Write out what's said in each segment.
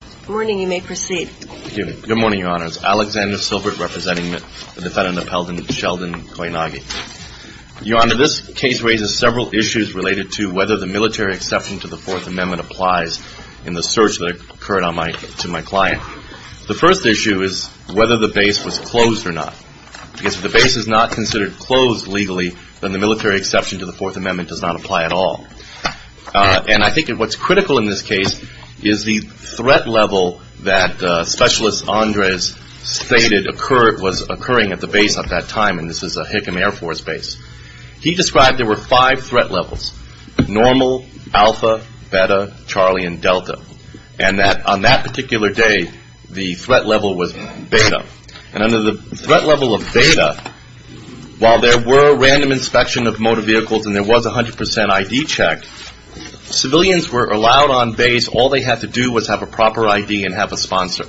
Good morning. You may proceed. Thank you. Good morning, Your Honors. Alexander Silbert representing the defendant upheld in Sheldon Koyanagi. Your Honor, this case raises several issues related to whether the military exception to the Fourth Amendment applies in the search that occurred to my client. The first issue is whether the base was closed or not. Because if the base is not considered closed legally, then the military exception to the Fourth Amendment does not apply at all. And I think what's critical in this case is the threat level that Specialist Andres stated was occurring at the base at that time. And this is a Hickam Air Force base. He described there were five threat levels, normal, alpha, beta, Charlie, and delta. And on that particular day, the threat level was beta. And under the threat level of beta, while there were random inspection of motor vehicles and there was 100 percent ID check, civilians were allowed on base. All they had to do was have a proper ID and have a sponsor.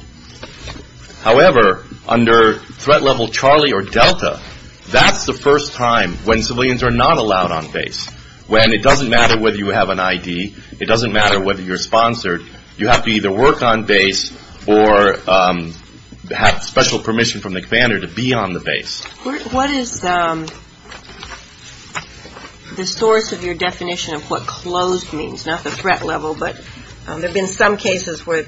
However, under threat level Charlie or delta, that's the first time when civilians are not allowed on base. When it doesn't matter whether you have an ID. It doesn't matter whether you're sponsored. You have to either work on base or have special permission from the commander to be on the base. What is the source of your definition of what closed means? Not the threat level, but there have been some cases where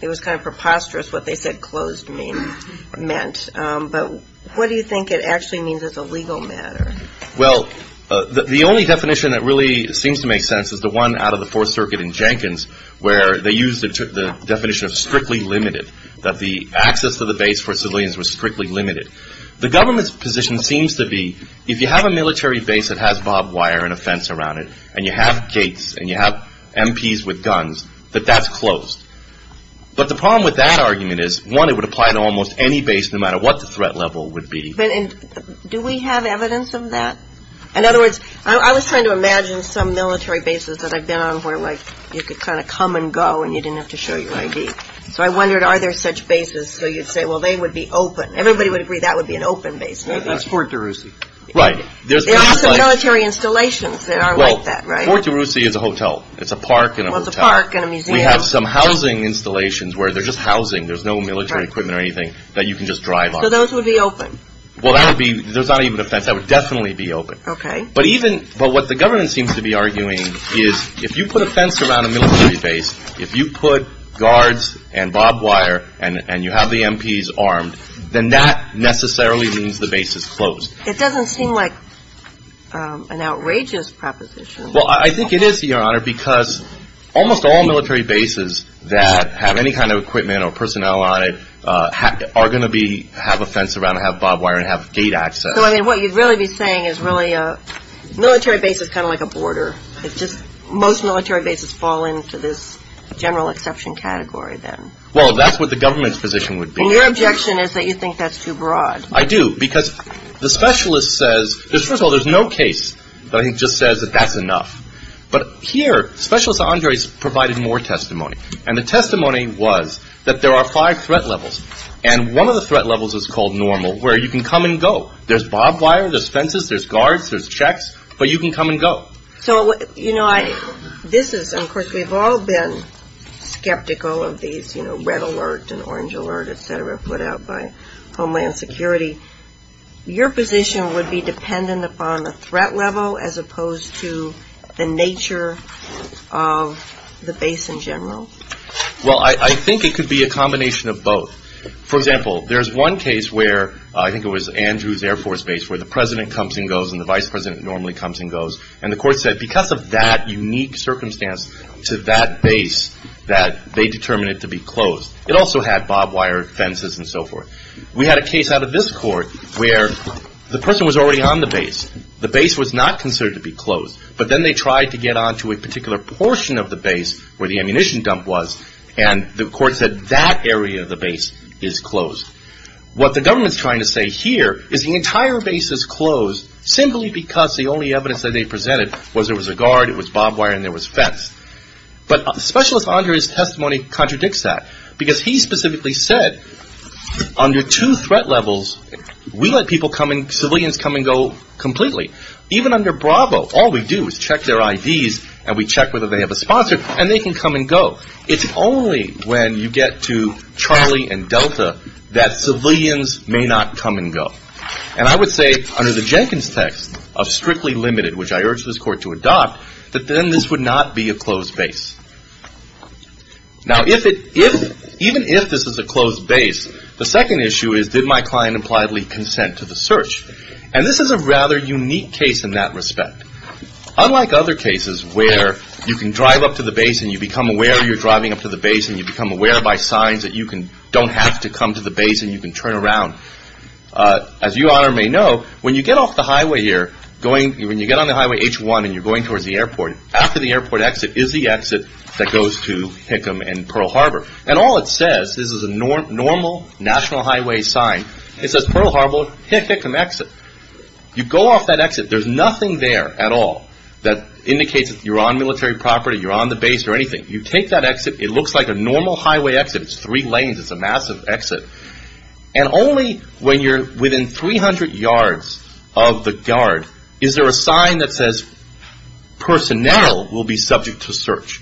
it was kind of preposterous what they said closed meant. But what do you think it actually means as a legal matter? Well, the only definition that really seems to make sense is the one out of the Fourth Circuit in Jenkins where they used the definition of strictly limited. That the access to the military or civilians was strictly limited. The government's position seems to be if you have a military base that has barbed wire and a fence around it and you have gates and you have MPs with guns, that that's closed. But the problem with that argument is, one, it would apply to almost any base no matter what the threat level would be. But do we have evidence of that? In other words, I was trying to imagine some military bases that I've been on where like you could kind of come and go and you didn't have to show your ID. So I wondered, are there such bases? So you'd say, well, they would be open. Everybody would agree that would be an open base, maybe. That's Fort DeRussy. Right. There are some military installations that are like that, right? Well, Fort DeRussy is a hotel. It's a park and a hotel. Well, it's a park and a museum. We have some housing installations where they're just housing. There's no military equipment or anything that you can just drive on. So those would be open? Well, that would be, there's not even a fence. That would definitely be open. Okay. But even, but what the government seems to be arguing is if you put a fence around a you put guards and barbed wire and you have the MPs armed, then that necessarily means the base is closed. It doesn't seem like an outrageous proposition. Well, I think it is, Your Honor, because almost all military bases that have any kind of equipment or personnel on it are going to be, have a fence around and have barbed wire and have gate access. So, I mean, what you'd really be saying is really a military base is kind of like a border. It's just most military bases fall into this general exception category then. Well, that's what the government's position would be. Well, your objection is that you think that's too broad. I do, because the specialist says, first of all, there's no case that I think just says that that's enough. But here, Specialist Andres provided more testimony. And the testimony was that there are five threat levels. And one of the threat levels is called normal, where you can come and go. There's barbed wire, there's fences, there's guards, there's checks, but you can come and go. So, you know, this is, of course, we've all been skeptical of these, you know, red alert and orange alert, et cetera, put out by Homeland Security. Your position would be dependent upon the threat level as opposed to the nature of the base in general? Well, I think it could be a combination of both. For example, there's one case where, I think it was Andrews Air Force Base, where the President comes and goes and the Vice President comes and goes. And the court said, because of that unique circumstance to that base, that they determined it to be closed. It also had barbed wire, fences, and so forth. We had a case out of this court where the person was already on the base. The base was not considered to be closed. But then they tried to get onto a particular portion of the base where the ammunition dump was, and the court said that area of the base is closed. What the government's trying to say here is the entire base is closed simply because the only evidence that they presented was there was a guard, it was barbed wire, and there was fence. But Specialist Andrews' testimony contradicts that because he specifically said under two threat levels, we let civilians come and go completely. Even under Bravo, all we do is check their IDs and we check whether they have a sponsor and they can come and go. It's only when you get to Charlie and Delta that civilians may not come and go. Now, if it, even if this is a closed base, the second issue is, did my client impliedly consent to the search? And this is a rather unique case in that respect. Unlike other cases where you can drive up to the base and you become aware you're driving up to the base and you become aware by signs that you don't have to come to the base and you can turn around, as you may or may not know, when you get off the highway here, when you get on the highway H1 and you're going towards the airport, after the airport exit is the exit that goes to Hickam and Pearl Harbor. And all it says, this is a normal national highway sign, it says Pearl Harbor, Hickam exit. You go off that exit, there's nothing there at all that indicates that you're on military property, you're on the base or anything. You take that exit, it looks like a normal highway exit, it's three lanes, it's a massive exit. And only when you're within 300 yards of the guard is there a sign that says personnel will be subject to search.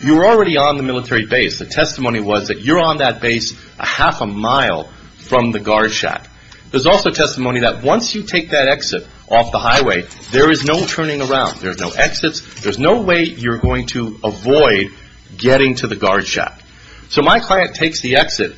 You're already on the military base. The testimony was that you're on that base a half a mile from the guard shack. There's also testimony that once you take that exit off the highway, there is no turning around, there's no exits, there's no way you're going to avoid getting to the guard shack. So my client takes the exit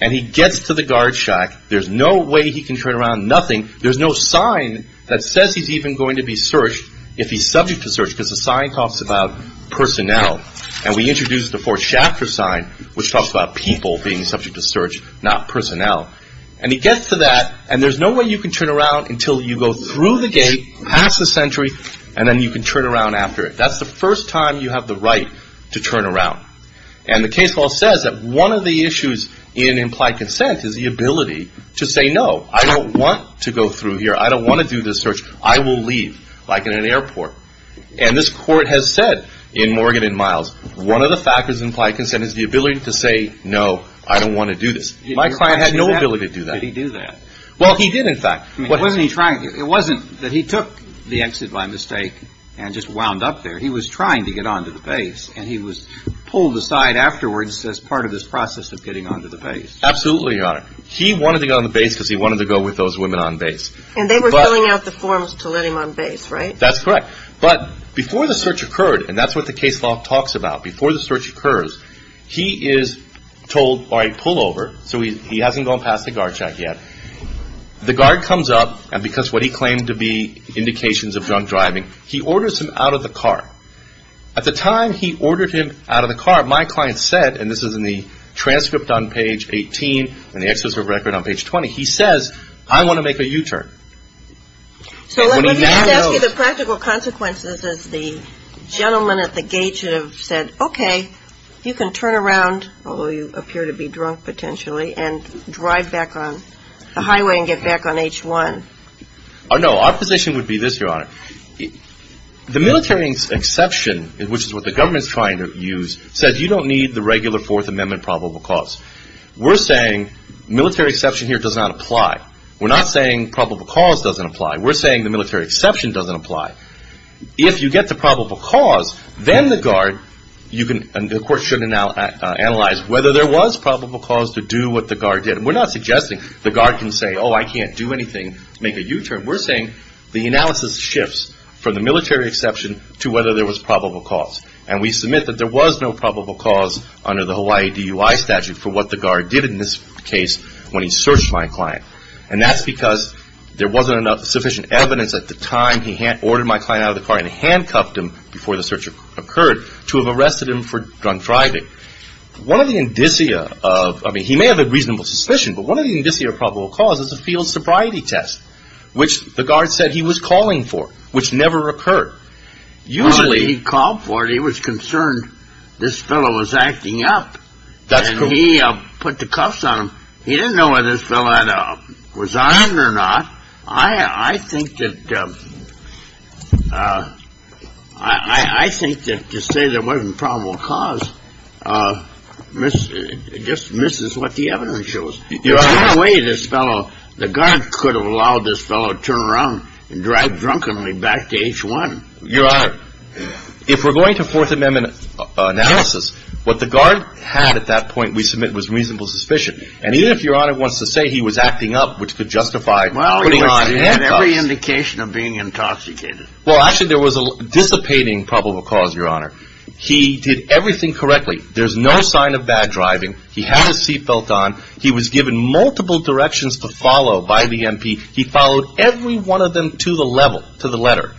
and he gets to the guard shack, there's no way he can turn around, nothing. There's no sign that says he's even going to be searched if he's subject to search because the sign talks about personnel. And we introduce the fourth chapter sign which talks about people being subject to search, not personnel. And he gets to that and there's no way you can turn around until you go through the gate, pass the sentry, and then you can turn around after it. That's the first time you have the right to turn around. And the case law says that one of the issues in implied consent is the ability to say no, I don't want to go through here, I don't want to do this search, I will leave, like in an airport. And this court has said in Morgan and Miles, one of the factors in implied consent is the ability to say no, I don't want to do this. My client had no ability to do that. Why did he do that? Well, he did in fact. Wasn't he trying to? It wasn't that he took the exit by mistake and just wound up there. He was trying to get on to the base and he was pulled aside afterwards as part of this process of getting on to the base. Absolutely, Your Honor. He wanted to go on the base because he wanted to go with those women on base. And they were filling out the forms to let him on base, right? That's correct. But before the search occurred, and that's what the case law talks about, before the search occurs, he is told, all right, pull over, so he hasn't gone past the guard check yet. The guard comes up and because of what he claimed to be indications of drunk driving, he orders him out of the car. At the time he ordered him out of the car, my client said, and this is in the transcript on page 18 and the excerpt of the record on page 20, he says, I want to make a U-turn. So let me just ask you the practical consequences as the gentleman at the gate should have said okay, you can turn around, although you appear to be drunk potentially, and drive back on the highway and get back on H1. No, our position would be this, Your Honor. The military exception, which is what the government is trying to use, says you don't need the regular Fourth Amendment probable cause. We're saying military exception here does not apply. We're not saying probable cause doesn't apply. We're saying the military exception doesn't apply. If you get the probable cause, then the guard, you can, and the court should analyze whether there was probable cause to do what the guard did. We're not suggesting the guard can say, oh, I can't do anything to make a U-turn. We're saying the analysis shifts from the military exception to whether there was probable cause. And we submit that there was no probable cause under the Hawaii DUI statute for what the guard did in this case when he searched my client. And that's because there wasn't enough sufficient evidence at the time he ordered my client out of the car and handcuffed him before the search occurred to have arrested him for drunk driving. One of the indicia of, I mean, he may have a reasonable suspicion, but one of the indicia of probable cause is a field sobriety test, which the guard said he was calling for, which never occurred. Usually he called for it. He was concerned this fellow was acting up. That's true. And he put the cuffs on him. He didn't know whether this fellow had resigned or not. I think that to say there wasn't probable cause just misses what the evidence shows. There's no way this fellow, the guard could have allowed this fellow to turn around and drive drunkenly back to H-1. Your Honor, if we're going to Fourth Amendment analysis, what the guard had at that point we submit was reasonable suspicion. And even if Your Honor wants to say he was acting up, which could justify putting on handcuffs. Well, he had every indication of being intoxicated. Well, actually there was a dissipating probable cause, Your Honor. He did everything correctly. There's no sign of bad driving. He had his seatbelt on. He was given multiple directions to follow by the MP. He followed every one of them to the level, to the letter.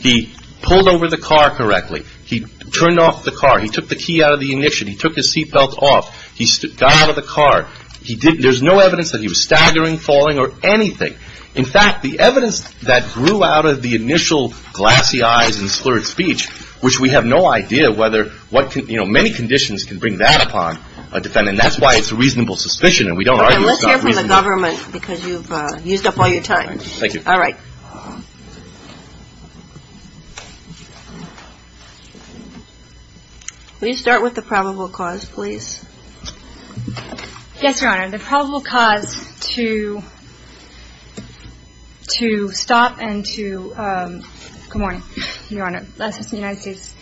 He pulled over the car correctly. He turned off the car. He took the key out of the ignition. He took his seatbelt off. He got out of the car. There's no evidence that he was staggering, falling or anything. In fact, the evidence that grew out of the initial glassy eyes and slurred speech, which we have no idea whether what can, you know, many conditions can bring that upon a defendant. And that's why it's reasonable suspicion. And we don't argue it's not reasonable suspicion. Okay. Let's hear from the government because you've used up all your time. Thank you. All right. Will you start with the probable cause, please? Yes, Your Honor. The probable cause to stop and to, um, good morning, Your Honor. I'm the Assistant United States,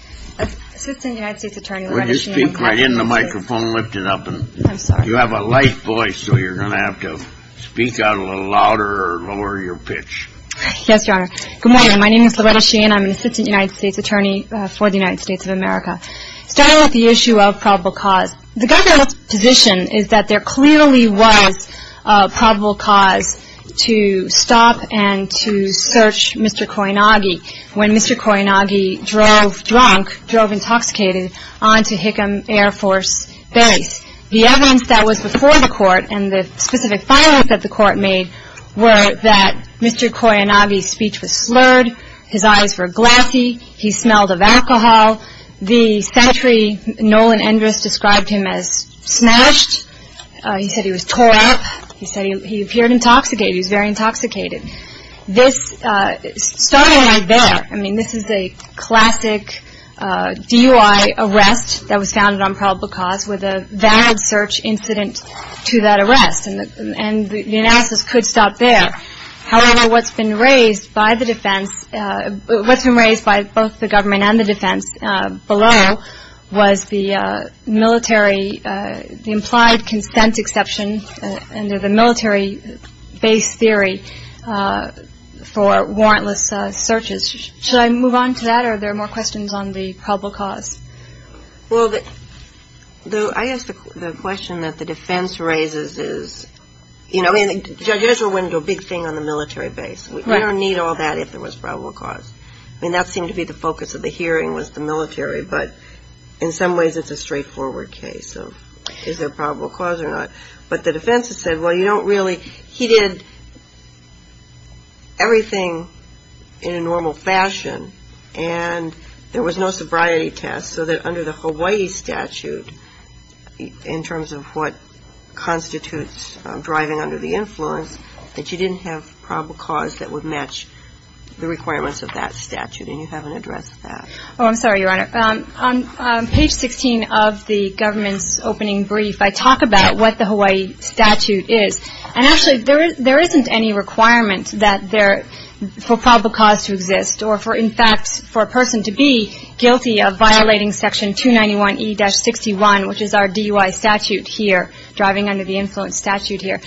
Assistant United States Attorney, Loretta Sheehan. Would you speak right into the microphone, lift it up? I'm sorry. You have a light voice, so you're going to have to speak out a little louder or lower your pitch. Yes, Your Honor. Good morning. My name is Loretta Sheehan. I'm an Assistant United States States Attorney for the United States of America. Starting with the issue of probable cause, the government's position is that there clearly was a probable cause to stop and to search Mr. Koyanagi when Mr. Koyanagi drove drunk, drove intoxicated onto Hickam Air Force Base. The evidence that was before the court and the specific filings that the court made were that Mr. Koyanagi's speech was slurred, his eyes were glassy, he smelled of alcohol. The secretary, Nolan Endress, described him as smashed. He said he was tore up. He said he appeared intoxicated. He was very intoxicated. This started right there. I mean, this is the classic DUI arrest that was founded on probable cause with a valid search incident to that arrest. And the analysis could stop there. However, what's been raised by the defense, what's been raised by both the government and the defense below was the military, the implied consent exception under the military base theory for warrantless searches. Should I move on to that or are there more questions on the probable cause? Well, I guess the question that the defense raises is, you know, I mean, judges are willing to do a big thing on the military base. We don't need all that if there was probable cause. I mean, that seemed to be the focus of the hearing was the military, but in some ways it's a straightforward case of is there probable cause or not. But the defense has said, well, you don't really he did everything in a normal fashion and there was no sobriety test, so that under the Hawaii statute, in terms of what constitutes driving under the influence, that you didn't have probable cause that would match the requirements of that statute, and you haven't addressed that. Oh, I'm sorry, Your Honor. On page 16 of the government's opening brief, I talk about what the Hawaii statute is. And actually, there isn't any requirement that there for probable cause to exist or for, in fact, for a person to be guilty of violating section 291E-61, which is our DUI statute here, driving under the influence statute here.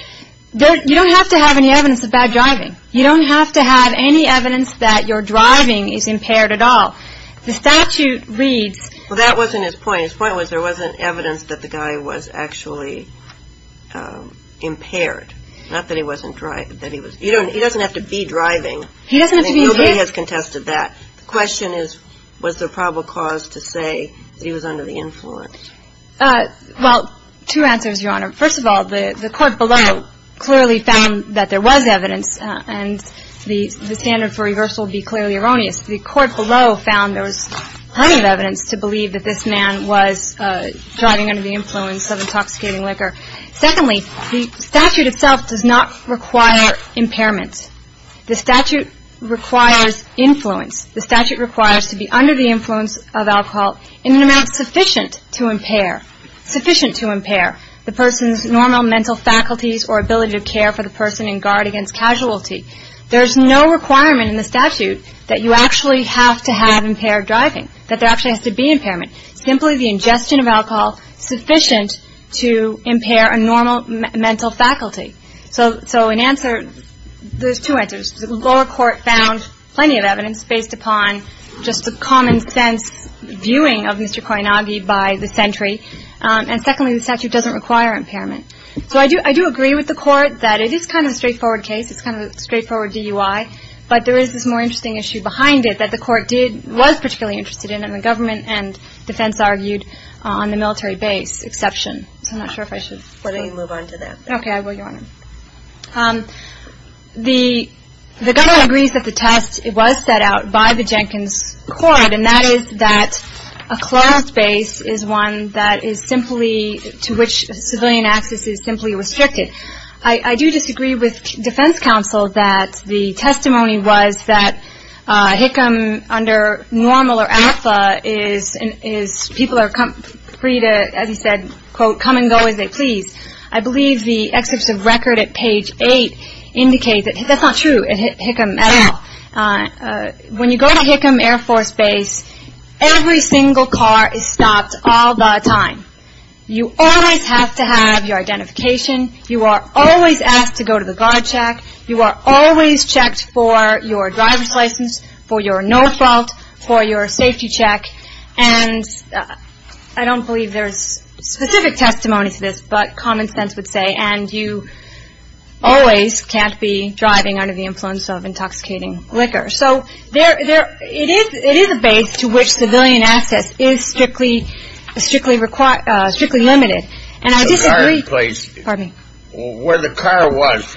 You don't have to have any evidence of bad driving. You don't have to have any evidence that your driving is impaired at all. The statute reads... Well, that wasn't his point. His point was there wasn't evidence that the guy was actually impaired, not that he wasn't driving. He doesn't have to be driving. He doesn't have to be impaired. Nobody has contested that. The question is, was there probable cause to say he was under the influence? Well, two answers, Your Honor. First of all, the court below clearly found that there was evidence, and the standard for reversal would be clearly erroneous. The court below found there was plenty of evidence to believe that this man was driving under the influence of intoxicating liquor. Secondly, the statute itself does not require impairment. The statute requires influence. The statute requires to be under the influence of alcohol in an amount sufficient to impair, sufficient to impair the person's normal mental faculties or ability to care for the person in guard against casualty. There is no requirement in the statute that you actually have to have impaired driving, that there actually has to be impairment. Simply the ingestion of alcohol sufficient to impair a normal mental faculty. So in answer, there's two answers. The lower court found plenty of evidence based upon just the common sense viewing of Mr. Koinagi by the sentry. And secondly, the statute doesn't require impairment. So I do agree with the court that it is kind of a straightforward case. It's kind of a straightforward DUI. But there is this more interesting issue behind it that the court did, was particularly interested in and the government and defense counsel argued on the military base exception. So I'm not sure if I should move on to that. The government agrees that the test was set out by the Jenkins court and that is that a closed base is one that is simply, to which civilian access is simply restricted. I do disagree with defense counsel that the testimony was that Hickam under normal or alpha is people are free to, as he said, quote, come and go as they please. I believe the excerpts of record at page 8 indicate that that's not true at Hickam at all. When you go to Hickam Air Force Base, every single car is stopped all the time. You always have to have your identification. You are always asked to go to the guard check. You are always checked for your driver's license, for your no fault, for your safety check. And I don't believe there's specific testimony to this, but common sense would say, and you always can't be driving under the influence of intoxicating liquor. So it is a base to which civilian access is strictly limited. The guard place, where the car was,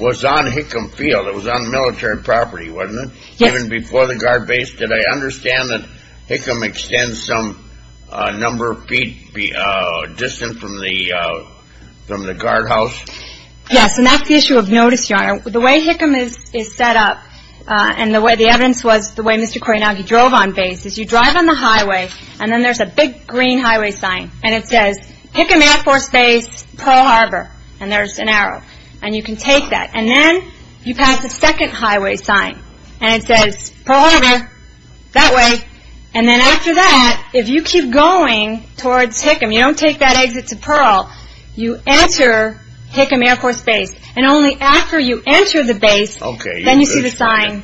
was on Hickam Field. It was on military property, wasn't it? Even before the guard base? Did I understand that Hickam extends some number of feet distant from the guard house? Yes, and that's the issue of notice, Your Honor. The way Hickam is set up and the evidence was the way Mr. Koyanagi drove on base is you drive on the highway and then there's a big green highway sign and it says, Hickam Air Force Base, Pearl Harbor. And there's an arrow and you can take that. And then you pass the second highway sign and it says, Pearl Harbor, that way. And then after that, if you keep going towards Hickam, you don't take that exit to Pearl, you enter Hickam Air Force Base. And only after you enter the base, then you see the sign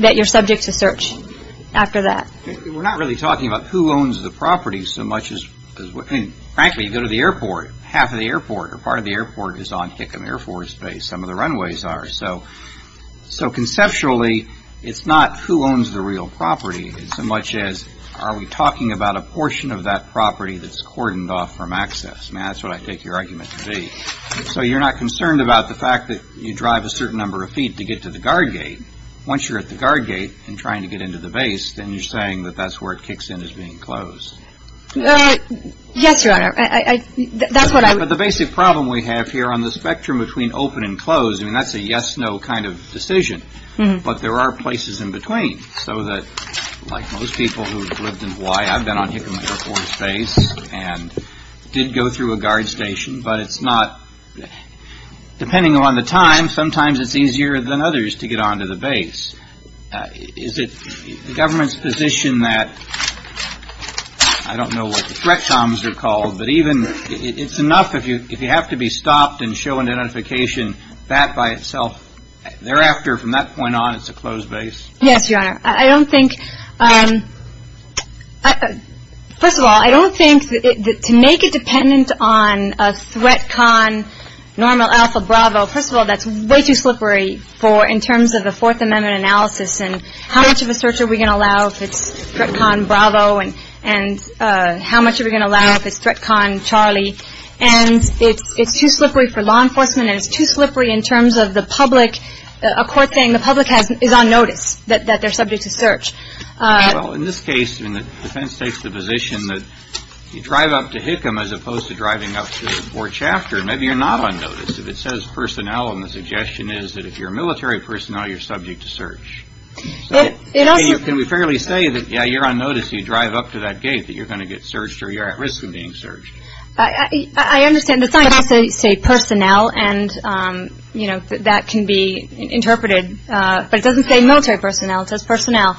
that you're subject to search after that. We're not really talking about who owns the property so much as, frankly, you go to the airport. Half of the airport or part of the airport is on Hickam Air Force Base. Some of the runways are. So conceptually, it's not who owns the real property so much as are we talking about a portion of that property that's cordoned off from access? That's what I take your argument to be. So you're not concerned about the fact that you drive a certain number of feet to get to the guard gate and trying to get into the base, then you're saying that that's where it kicks in as being closed. Yes, Your Honor. That's what I would. But the basic problem we have here on the spectrum between open and closed, I mean, that's a yes, no kind of decision. But there are places in between so that, like most people who have lived in Hawaii, I've been on Hickam Air Force Base and did go through a guard station. But it's not, depending on the time, sometimes it's easier than others to get onto the base. Is it the government's position that, I don't know what the threat comms are called, but even, it's enough if you have to be stopped and shown a notification, that by itself, thereafter, from that point on, it's a closed base? Yes, Your Honor. I don't think, first of all, I don't think that to make it way too slippery in terms of the Fourth Amendment analysis and how much of a search are we going to allow if it's threat con Bravo and how much are we going to allow if it's threat con Charlie. And it's too slippery for law enforcement and it's too slippery in terms of the public, a court saying the public is on notice that they're subject to search. Well, in this case, the defense takes the position that you drive up to Hickam as opposed to driving up to Fort Chapter. Maybe you're not on notice. If it says personnel, and the suggestion is that if you're military personnel, you're subject to search. It also Can we fairly say that, yeah, you're on notice, you drive up to that gate, that you're going to get searched or you're at risk of being searched? I understand. The sign has to say personnel and, you know, that can be interpreted, but it doesn't say military personnel. It says personnel.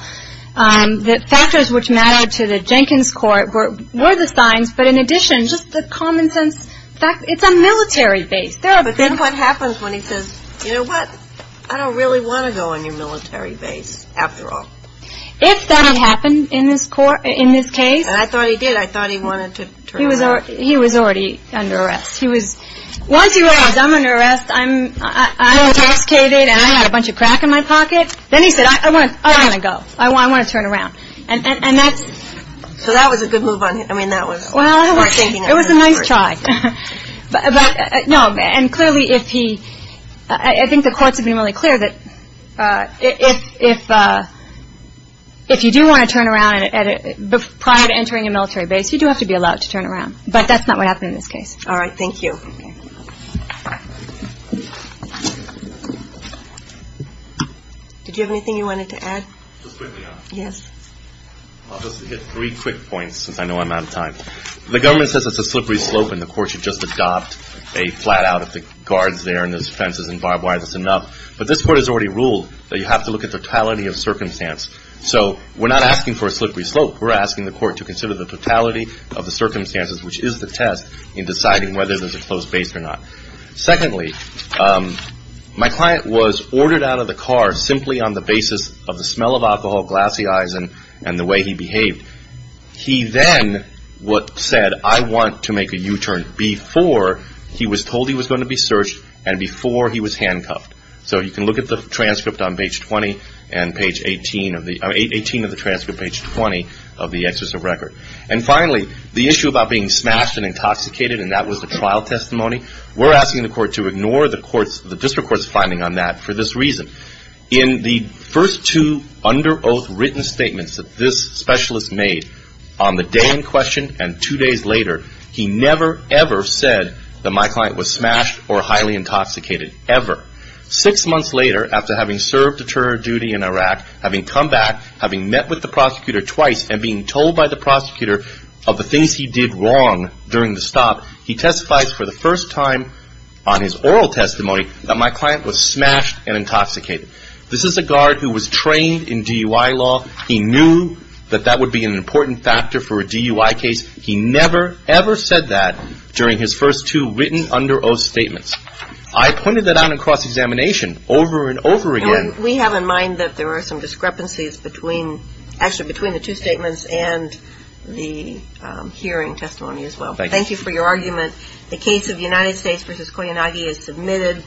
The factors which matter to the Jenkins court were the signs, but in addition, just the common sense, it's a military base. But then what happens when he says, you know what, I don't really want to go on your military base after all. If that had happened in this case. And I thought he did. I thought he wanted to turn around. He was already under arrest. He was, once he realized I'm under arrest, I'm intoxicated and I had a bunch of crack in my pocket, then he said, I want to go. I want to turn around. And that's So that was a good move on him. I mean, that was Well, I don't think it was a nice try. But no. And clearly, if he I think the courts have been really clear that if if you do want to turn around and prior to entering a military base, you do have to be allowed to turn around. But that's not what happened in this case. All right. Thank you. Did you have anything you wanted to add? Yes. I'll just hit three quick points, since I know I'm out of time. The government says it's a slippery slope and the court should just adopt a flat out if the guards there and those fences and barbed wire, that's enough. But this court has already ruled that you have to look at the totality of circumstance. So we're not asking for a slippery slope. We're asking the court to consider the totality of the circumstances, which is the test in deciding whether there's a close base or not. Secondly, my client was ordered out of the car simply on the basis of the smell of alcohol, glassy eyes, and the way he behaved. He then said, I want to make a U-turn before he was told he was going to be searched and before he was handcuffed. So you can look at the transcript on page 20 and page 18 of the transcript, page 20 of the exercise record. And finally, the issue about being smashed and intoxicated, and that was the trial testimony, we're asking the court to ignore the district court's finding on that for this reason. In the first two under oath written statements that this specialist made, on the day in question and two days later, he never, ever said that my client was smashed or highly intoxicated, ever. Six months later, after having served a terror duty in Iraq, having come back, having met with the prosecutor twice, and being told by the prosecutor of the things he did wrong during the stop, he testifies for the first time on his oral testimony that my client was smashed and intoxicated. This is a guard who was trained in DUI law. He knew that that would be an important factor for a DUI case. He never, ever said that during his first two written under oath statements. I pointed that out in cross-examination over and over again. And we have in mind that there are some discrepancies between, actually, between the two statements and the hearing testimony as well. Thank you for your argument. The case of United States v. Koyanagi is submitted.